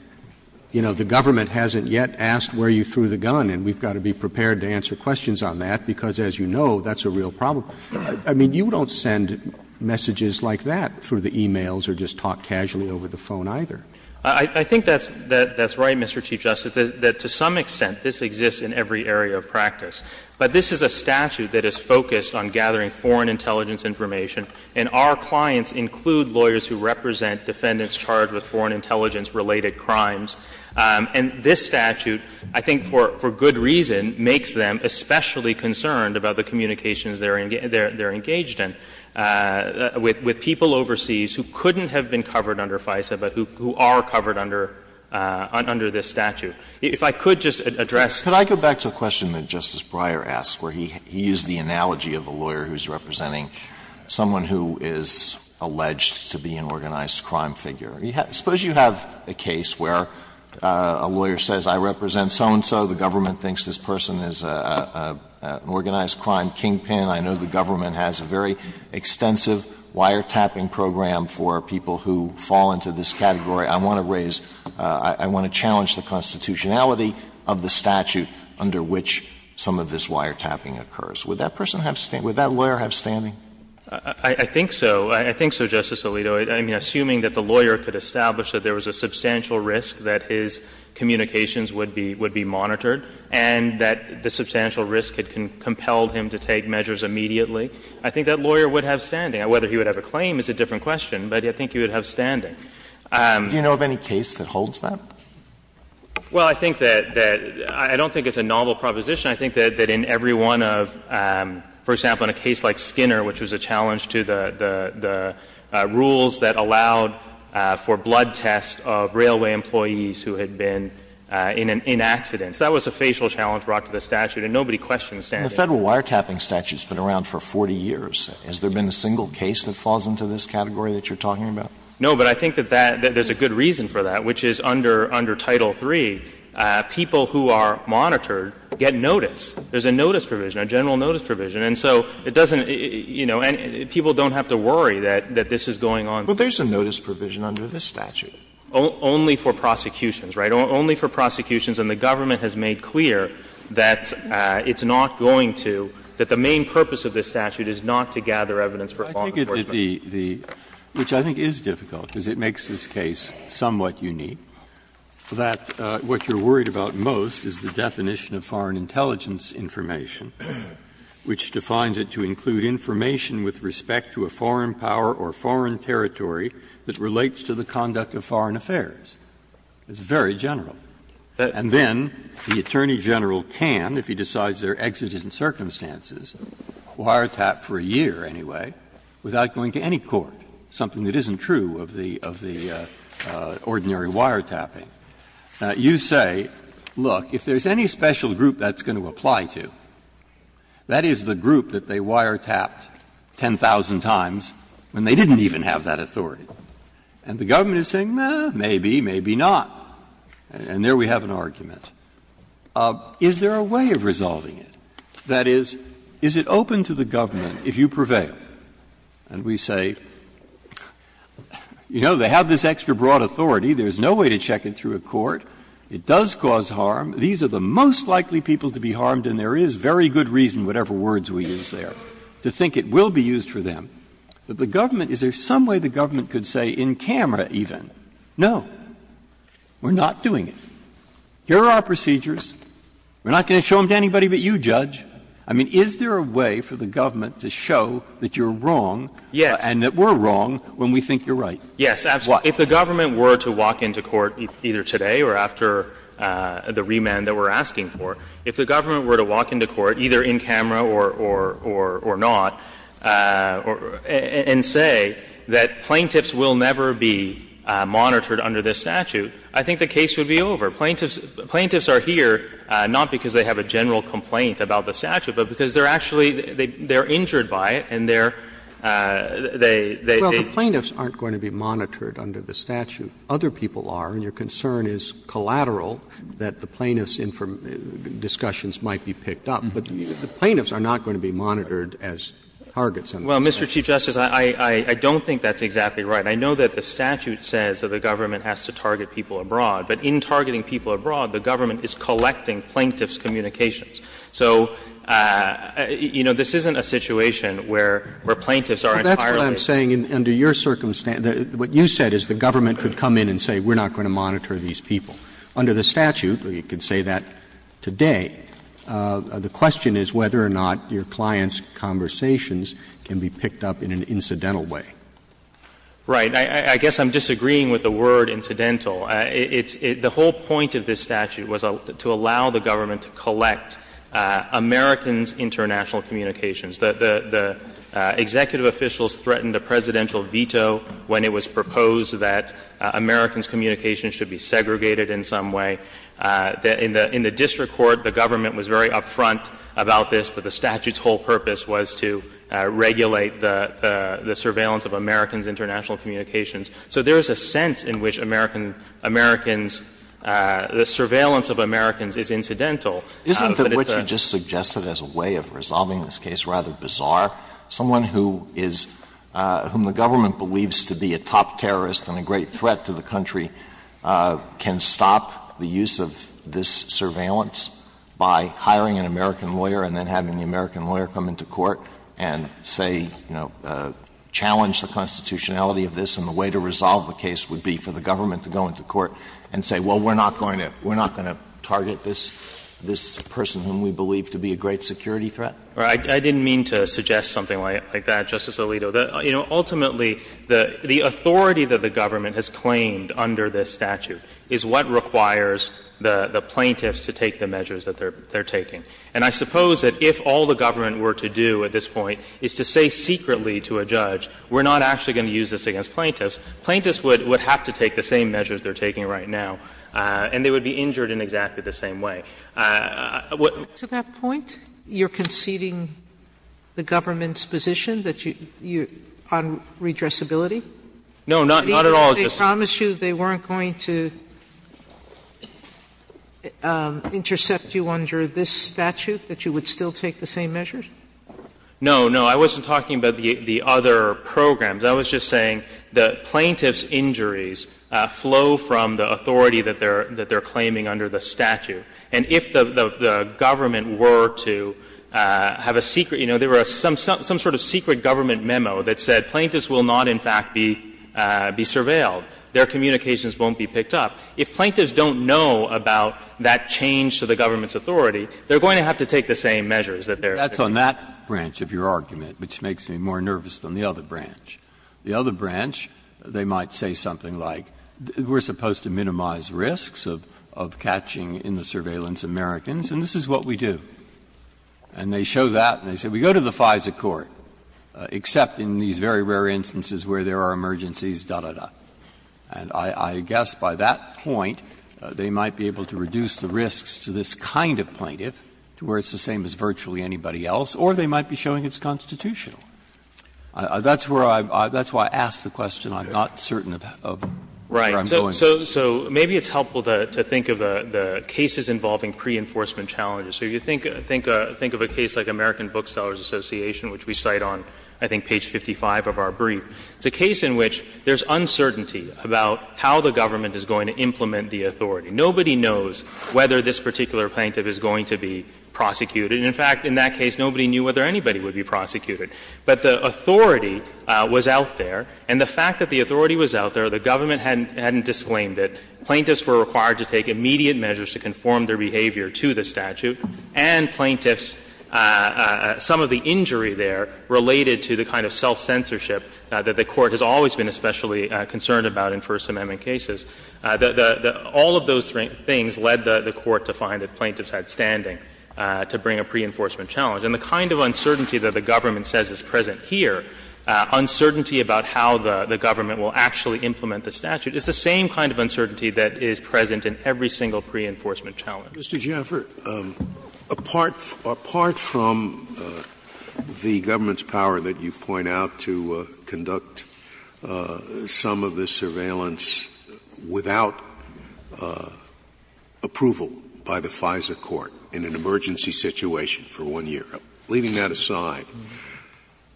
you know, the government hasn't yet asked where you threw the gun and we've got to be prepared to answer questions on that, because as you know, that's a real problem. I mean, you don't send messages like that through the e-mails or just talk casually over the phone, either. I think that's right, Mr. Chief Justice, that to some extent this exists in every area of practice. But this is a statute that is focused on gathering foreign intelligence information, and our clients include lawyers who represent defendants charged with foreign intelligence related crimes. And this statute, I think, for good reason, makes them especially concerned about the communications they're engaged in with people overseas who couldn't have been covered under FISA, but who are covered under this statute. If I could just address the question that Justice Breyer asked, where he used the analogy of a lawyer who's representing someone who is alleged to be an organized crime figure. Suppose you have a case where a lawyer says, I represent so-and-so, the government thinks this person is an organized crime kingpin, I know the government has a very extensive wiretapping program for people who fall into this category, I want to raise – I want to challenge the constitutionality of the statute under which some of this wiretapping occurs. Would that person have – would that lawyer have standing? I think so. I think so, Justice Alito. I mean, assuming that the lawyer could establish that there was a substantial risk that his communications would be monitored, and that the substantial risk had compelled him to take measures immediately, I think that lawyer would have standing. Whether he would have a claim is a different question, but I think he would have standing. Do you know of any case that holds that? Well, I think that – I don't think it's a novel proposition. I think that in every one of – for example, in a case like Skinner, which was a challenge to the rules that allowed for blood tests of railway employees who had been in an accident. So that was a facial challenge brought to the statute, and nobody questioned standing. The Federal wiretapping statute has been around for 40 years. Has there been a single case that falls into this category that you're talking about? No, but I think that that – that there's a good reason for that, which is under Title III, people who are monitored get notice. There's a notice provision, a general notice provision. And so it doesn't – you know, and people don't have to worry that this is going on. But there's a notice provision under this statute. Only for prosecutions, right? Only for prosecutions. And the government has made clear that it's not going to – that the main purpose of this statute is not to gather evidence for law enforcement. Breyer, which I think is difficult, because it makes this case somewhat unique, that what you're worried about most is the definition of foreign intelligence information, which defines it to include information with respect to a foreign power or foreign territory that relates to the conduct of foreign affairs. It's very general. And then the Attorney General can, if he decides there are exigent circumstances, wiretap for a year anyway, without going to any court, something that isn't true of the – of the ordinary wiretapping, you say, look, if there's any special group that's going to apply to, that is the group that they wiretapped 10,000 times when they didn't even have that authority. And the government is saying, no, maybe, maybe not. And there we have an argument. Is there a way of resolving it? That is, is it open to the government, if you prevail, and we say, you know, they have this extra broad authority, there's no way to check it through a court, it does cause harm, these are the most likely people to be harmed, and there is very good reason, whatever words we use there, to think it will be used for them, that the government – is there some way the government could say in camera even, no, we're not doing it. Here are our procedures. We're not going to show them to anybody but you, Judge. I mean, is there a way for the government to show that you're wrong and that we're wrong when we think you're right? Yes. If the government were to walk into court either today or after the remand that we're asking for, if the government were to walk into court, either in camera or not, and say that plaintiffs will never be monitored under this statute, I think the case would be over. Plaintiffs are here not because they have a general complaint about the statute, but because they're actually, they're injured by it and they're, they, they. Well, the plaintiffs aren't going to be monitored under the statute. Other people are, and your concern is collateral, that the plaintiffs' discussions might be picked up. But the plaintiffs are not going to be monitored as targets under the statute. Well, Mr. Chief Justice, I don't think that's exactly right. I know that the statute says that the government has to target people abroad. But in targeting people abroad, the government is collecting plaintiffs' communications. So, you know, this isn't a situation where, where plaintiffs are entirely. But that's what I'm saying. Under your circumstance, what you said is the government could come in and say we're not going to monitor these people. Under the statute, you could say that today. The question is whether or not your clients' conversations can be picked up in an incidental way. Right. I guess I'm disagreeing with the word incidental. It's the whole point of this statute was to allow the government to collect Americans' international communications. The executive officials threatened a presidential veto when it was proposed that Americans' communications should be segregated in some way. In the district court, the government was very upfront about this, that the statute's whole purpose was to regulate the surveillance of Americans' international communications. So there is a sense in which American — Americans' — the surveillance of Americans is incidental. Isn't that what you just suggested as a way of resolving this case rather bizarre? Someone who is — whom the government believes to be a top terrorist and a great threat to the country can stop the use of this surveillance by hiring an American lawyer and then having the American lawyer come into court and say, you know, challenge the constitutionality of this and the way to resolve the case would be for the government to go into court and say, well, we're not going to — we're not going to target this — this person whom we believe to be a great security threat? I didn't mean to suggest something like that, Justice Alito. You know, ultimately, the authority that the government has claimed under this statute is what requires the plaintiffs to take the measures that they're taking. And I suppose that if all the government were to do at this point is to say secretly to a judge, we're not actually going to use this against plaintiffs, plaintiffs would — would have to take the same measures they're taking right now, and they would be injured in exactly the same way. To that point, you're conceding the government's position that you — on redressability? No, not — not at all, Justice Sotomayor. They promised you they weren't going to intercept you under this statute, that you would still take the same measures? No, no. I wasn't talking about the — the other programs. I was just saying the plaintiff's injuries flow from the authority that they're — that they're claiming under the statute. And if the government were to have a secret — you know, there were some sort of secret government memo that said plaintiffs will not, in fact, be — be surveilled. Their communications won't be picked up. If plaintiffs don't know about that change to the government's authority, they're going to have to take the same measures that they're taking. So I'm on that branch of your argument, which makes me more nervous than the other branch. The other branch, they might say something like, we're supposed to minimize risks of — of catching in the surveillance Americans, and this is what we do. And they show that, and they say, we go to the FISA court, except in these very rare instances where there are emergencies, da, da, da. And I guess by that point, they might be able to reduce the risks to this kind of plaintiff, to where it's the same as virtually anybody else, or they might be showing it's constitutional. That's where I — that's why I asked the question. I'm not certain of where I'm going. So maybe it's helpful to think of the cases involving pre-enforcement challenges. So you think — think of a case like American Booksellers Association, which we cite on, I think, page 55 of our brief. It's a case in which there's uncertainty about how the government is going to implement the authority. Nobody knows whether this particular plaintiff is going to be prosecuted. And, in fact, in that case, nobody knew whether anybody would be prosecuted. But the authority was out there, and the fact that the authority was out there, the government hadn't — hadn't disclaimed it. Plaintiffs were required to take immediate measures to conform their behavior to the statute, and plaintiffs — some of the injury there related to the kind of self-censorship that the Court has always been especially concerned about in First Amendment cases. All of those things led the Court to find that plaintiffs had standing to bring a pre-enforcement challenge. And the kind of uncertainty that the government says is present here, uncertainty about how the government will actually implement the statute, is the same kind of uncertainty that is present in every single pre-enforcement challenge. Scalia. Mr. Jaffer, apart from the government's power that you point out to conduct some of this surveillance without approval by the FISA Court in an emergency situation for one year, leaving that aside,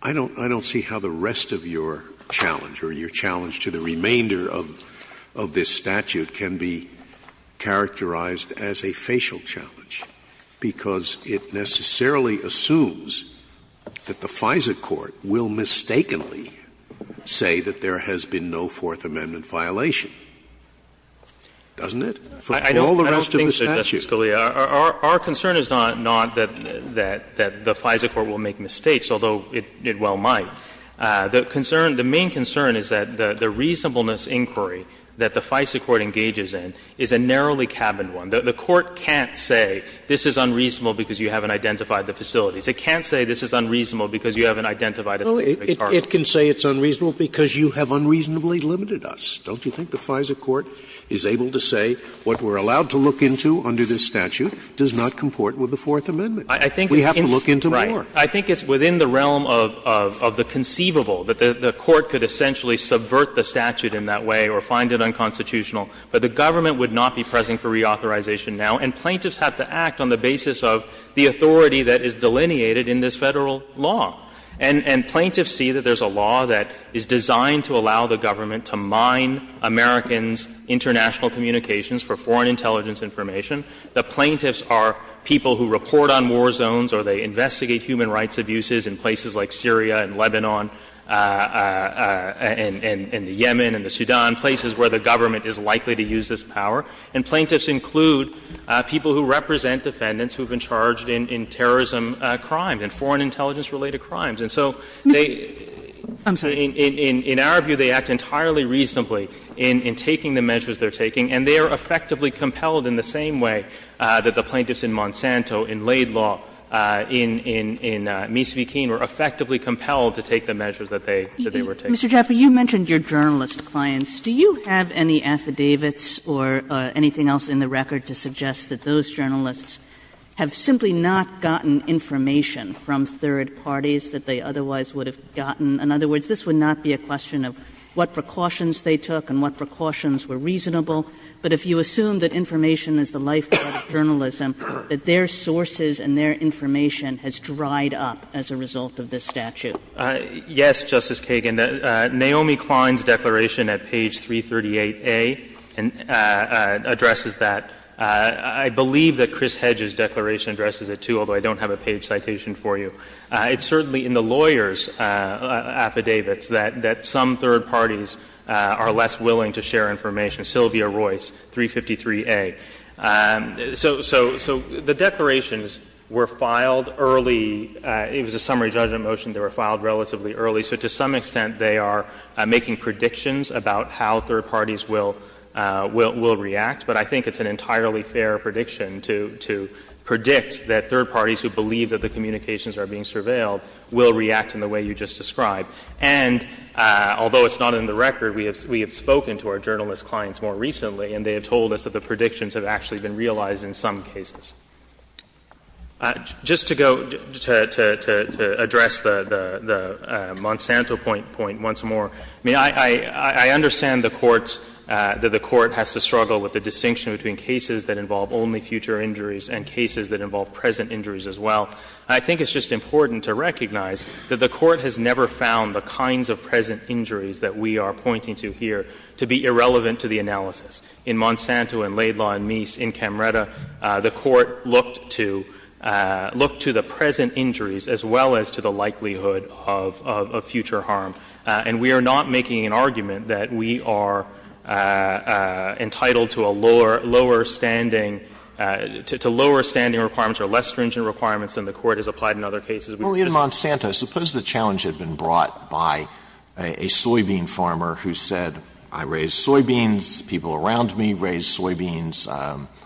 I don't — I don't see how the rest of your challenge or your challenge to the remainder of — of this statute can be characterized as a facial challenge, because it necessarily assumes that the FISA Court will mistakenly say that there has been no Fourth Amendment violation, doesn't it, for all the rest of the statute? I don't think so, Justice Scalia. Our concern is not — not that — that the FISA Court will make mistakes, although it well might. The concern — the main concern is that the reasonableness inquiry that the FISA Court engages in is a narrowly cabined one. The Court can't say this is unreasonable because you haven't identified the facilities. It can't say this is unreasonable because you haven't identified a specific parcel. Scalia, it can say it's unreasonable because you have unreasonably limited us. Don't you think the FISA Court is able to say what we're allowed to look into under this statute does not comport with the Fourth Amendment? We have to look into more. Right. I think it's within the realm of — of the conceivable, that the Court could essentially subvert the statute in that way or find it unconstitutional, but the government would not be present for reauthorization now, and plaintiffs have to act on the basis of the authority that is delineated in this Federal law. And — and plaintiffs see that there's a law that is designed to allow the government to mine Americans' international communications for foreign intelligence information. The plaintiffs are people who report on war zones or they investigate human rights abuses in places like Syria and Lebanon and — and the Yemen and the Sudan, places where the government is likely to use this power. And plaintiffs include people who represent defendants who have been charged in — in crimes. And so they — I'm sorry. In our view, they act entirely reasonably in — in taking the measures they're taking, and they are effectively compelled in the same way that the plaintiffs in Monsanto, in Laidlaw, in — in Misvah-Keene were effectively compelled to take the measures that they — that they were taking. Mr. Jaffer, you mentioned your journalist clients. Do you have any affidavits or anything else in the record to suggest that those journalists have simply not gotten information from third parties that they otherwise would have gotten? In other words, this would not be a question of what precautions they took and what precautions were reasonable, but if you assume that information is the lifeblood of journalism, that their sources and their information has dried up as a result of this statute? Yes, Justice Kagan. Naomi Klein's declaration at page 338A addresses that. I believe that Chris Hedges' declaration addresses it, too, although I don't have a page citation for you. It's certainly in the lawyers' affidavits that — that some third parties are less willing to share information, Sylvia Royce, 353A. So — so — so the declarations were filed early. It was a summary judgment motion. They were filed relatively early. So to some extent, they are making predictions about how third parties will — will react, but I think it's an entirely fair prediction to — to predict that third parties who believe that the communications are being surveilled will react in the way you just described. And although it's not in the record, we have — we have spoken to our journalist clients more recently, and they have told us that the predictions have actually been realized in some cases. Just to go — to — to address the — the Monsanto point once more, I mean, I — I think it's just important to recognize that the Court has never found the kinds of present injuries that we are pointing to here to be irrelevant to the analysis. In Monsanto, in Laidlaw, and Meese, in Camretta, the Court looked to — looked to the present injuries as well as to the likelihood of — of future harm. And we are not making an argument that we are — that we are not making an argument that we are entitled to a lower — lower standing — to lower standing requirements or less stringent requirements than the Court has applied in other cases. We just — Alito, in Monsanto, suppose the challenge had been brought by a soybean farmer who said, I raise soybeans, people around me raise soybeans,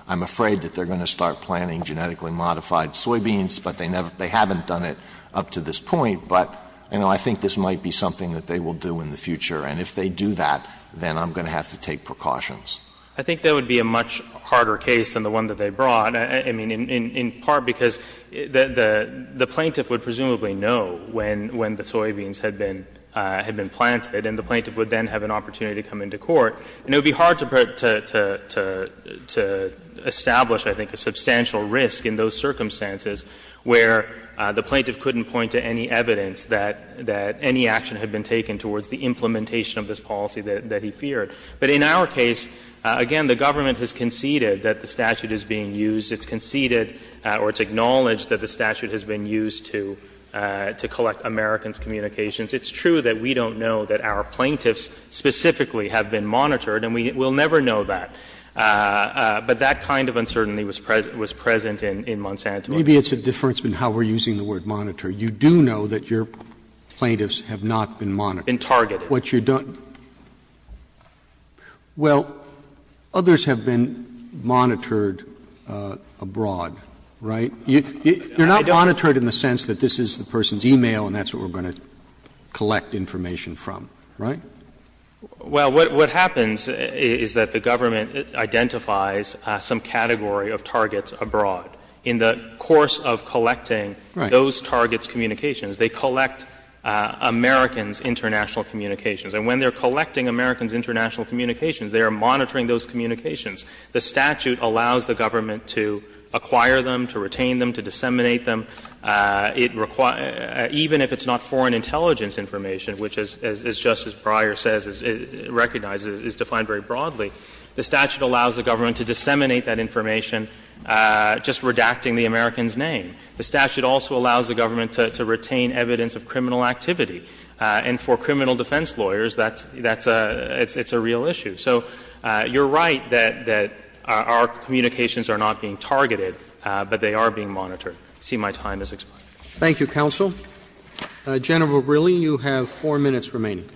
I'm afraid that they're going to start planting genetically modified soybeans, but they never — they haven't done it up to this point, but, you know, I think this might be something that they will do in the future, and if they do that, then I'm going to have to take precautions. I think that would be a much harder case than the one that they brought. I mean, in — in part because the — the plaintiff would presumably know when — when the soybeans had been — had been planted, and the plaintiff would then have an opportunity to come into court, and it would be hard to — to — to establish, I think, a substantial risk in those circumstances where the plaintiff couldn't point to any evidence that — that any action had been taken towards the implementation of this policy that he feared. But in our case, again, the government has conceded that the statute is being used. It's conceded, or it's acknowledged, that the statute has been used to — to collect Americans' communications. It's true that we don't know that our plaintiffs specifically have been monitored, and we will never know that. But that kind of uncertainty was present — was present in Monsanto. Roberts, maybe it's a difference in how we're using the word monitor. You do know that your plaintiffs have not been monitored. Been targeted. What you don't — well, others have been monitored abroad, right? You're not monitored in the sense that this is the person's e-mail and that's what we're going to collect information from, right? Well, what happens is that the government identifies some category of targets that are being monitored abroad in the course of collecting those targets' communications. They collect Americans' international communications. And when they're collecting Americans' international communications, they are monitoring those communications. The statute allows the government to acquire them, to retain them, to disseminate them. It — even if it's not foreign intelligence information, which, as — as Justice Breyer says, recognizes, is defined very broadly, the statute allows the government to disseminate that information just redacting the American's name. The statute also allows the government to — to retain evidence of criminal activity. And for criminal defense lawyers, that's — that's a — it's a real issue. So you're right that — that our communications are not being targeted, but they are being monitored. I see my time has expired. Roberts. Thank you, counsel. General Verrilli, you have four minutes remaining.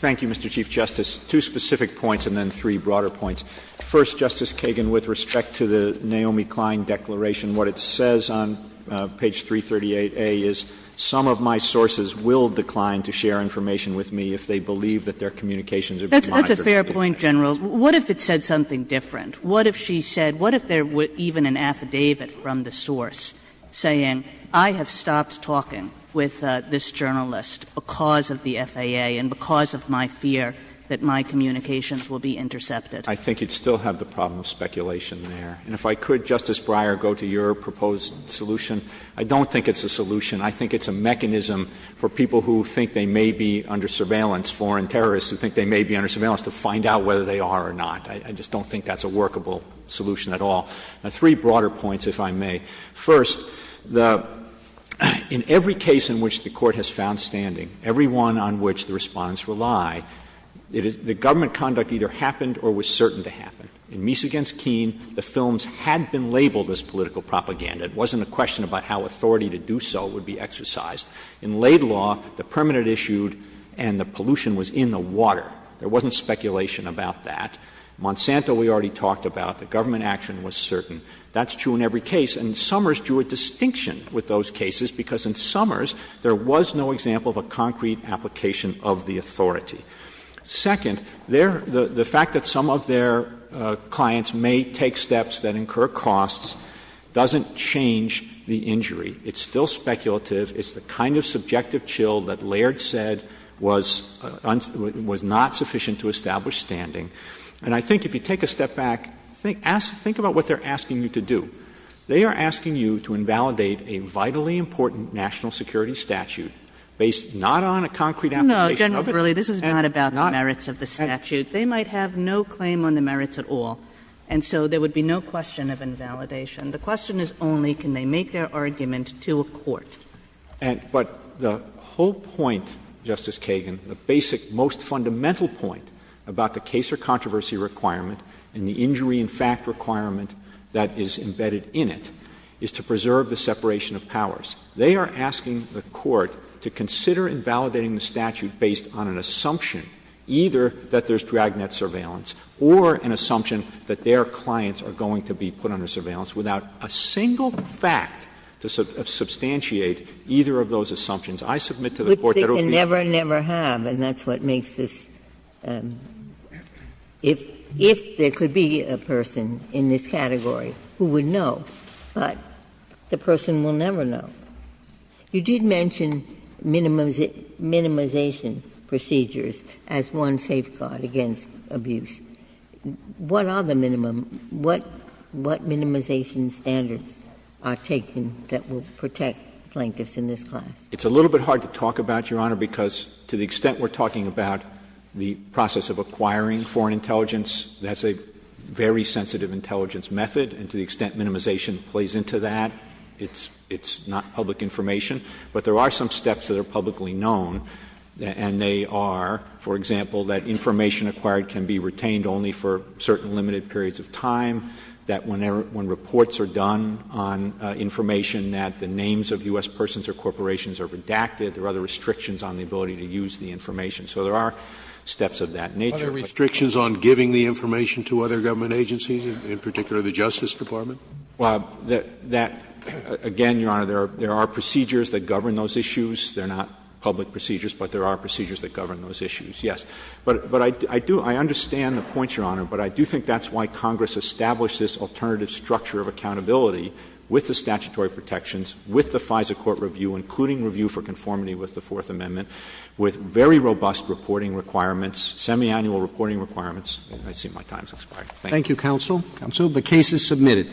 Thank you, Mr. Chief Justice. Two specific points and then three broader points. First, Justice Kagan, with respect to the Naomi Klein declaration, what it says on page 338A is, some of my sources will decline to share information with me if they believe that their communications are being monitored. That's a fair point, General. What if it said something different? What if she said — what if there were even an affidavit from the source saying, I have stopped talking with this journalist because of the FAA and because of my fear that my communications will be intercepted? I think you'd still have the problem of speculation there. And if I could, Justice Breyer, go to your proposed solution. I don't think it's a solution. I think it's a mechanism for people who think they may be under surveillance, foreign terrorists who think they may be under surveillance, to find out whether they are or not. I just don't think that's a workable solution at all. Three broader points, if I may. First, the — in every case in which the Court has found standing, every one on which the Respondents rely, the government conduct either happened or was certain to happen. In Meese v. Keene, the films had been labeled as political propaganda. It wasn't a question about how authority to do so would be exercised. In Laid Law, the permanent issue and the pollution was in the water. There wasn't speculation about that. Monsanto, we already talked about. The government action was certain. That's true in every case. And Summers drew a distinction with those cases because in Summers, there was no example of a concrete application of the authority. Second, there — the fact that some of their clients may take steps that incur costs doesn't change the injury. It's still speculative. It's the kind of subjective chill that Laird said was not sufficient to establish standing. And I think if you take a step back, think about what they are asking you to do. They are asking you to invalidate a vitally important national security statute based not on a concrete application of it and not — No, General Verrilli, this is not about the merits of the statute. They might have no claim on the merits at all, and so there would be no question of invalidation. The question is only, can they make their argument to a court? But the whole point, Justice Kagan, the basic, most fundamental point about the case or controversy requirement and the injury-in-fact requirement that is embedded in it is to preserve the separation of powers. They are asking the Court to consider invalidating the statute based on an assumption either that there's dragnet surveillance or an assumption that their clients are going to be put under surveillance without a single fact to substantiate either of those assumptions. I submit to the Court that it would be — Ginsburg, and that's what makes this — if there could be a person in this category who would know, but the person will never know. You did mention minimization procedures as one safeguard against abuse. What are the minimum — what minimization standards are taken that will protect plaintiffs in this class? It's a little bit hard to talk about, Your Honor, because to the extent we're talking about the process of acquiring foreign intelligence, that's a very sensitive intelligence method. And to the extent minimization plays into that, it's not public information. But there are some steps that are publicly known, and they are, for example, that information acquired can be retained only for certain limited periods of time, that when reports are done on information that the names of U.S. persons or corporations are redacted, there are other restrictions on the ability to use the information. So there are steps of that nature. Scalia Are there restrictions on giving the information to other government agencies, in particular the Justice Department? Verrilli, again, Your Honor, there are procedures that govern those issues. They're not public procedures, but there are procedures that govern those issues, yes. But I do — I understand the points, Your Honor, but I do think that's why Congress established this alternative structure of accountability with the statutory protections, with the FISA court review, including review for conformity with the Fourth Amendment, with very robust reporting requirements, semiannual reporting requirements. I see my time has expired. Thank you. Roberts Thank you, counsel. Counsel, the case is submitted.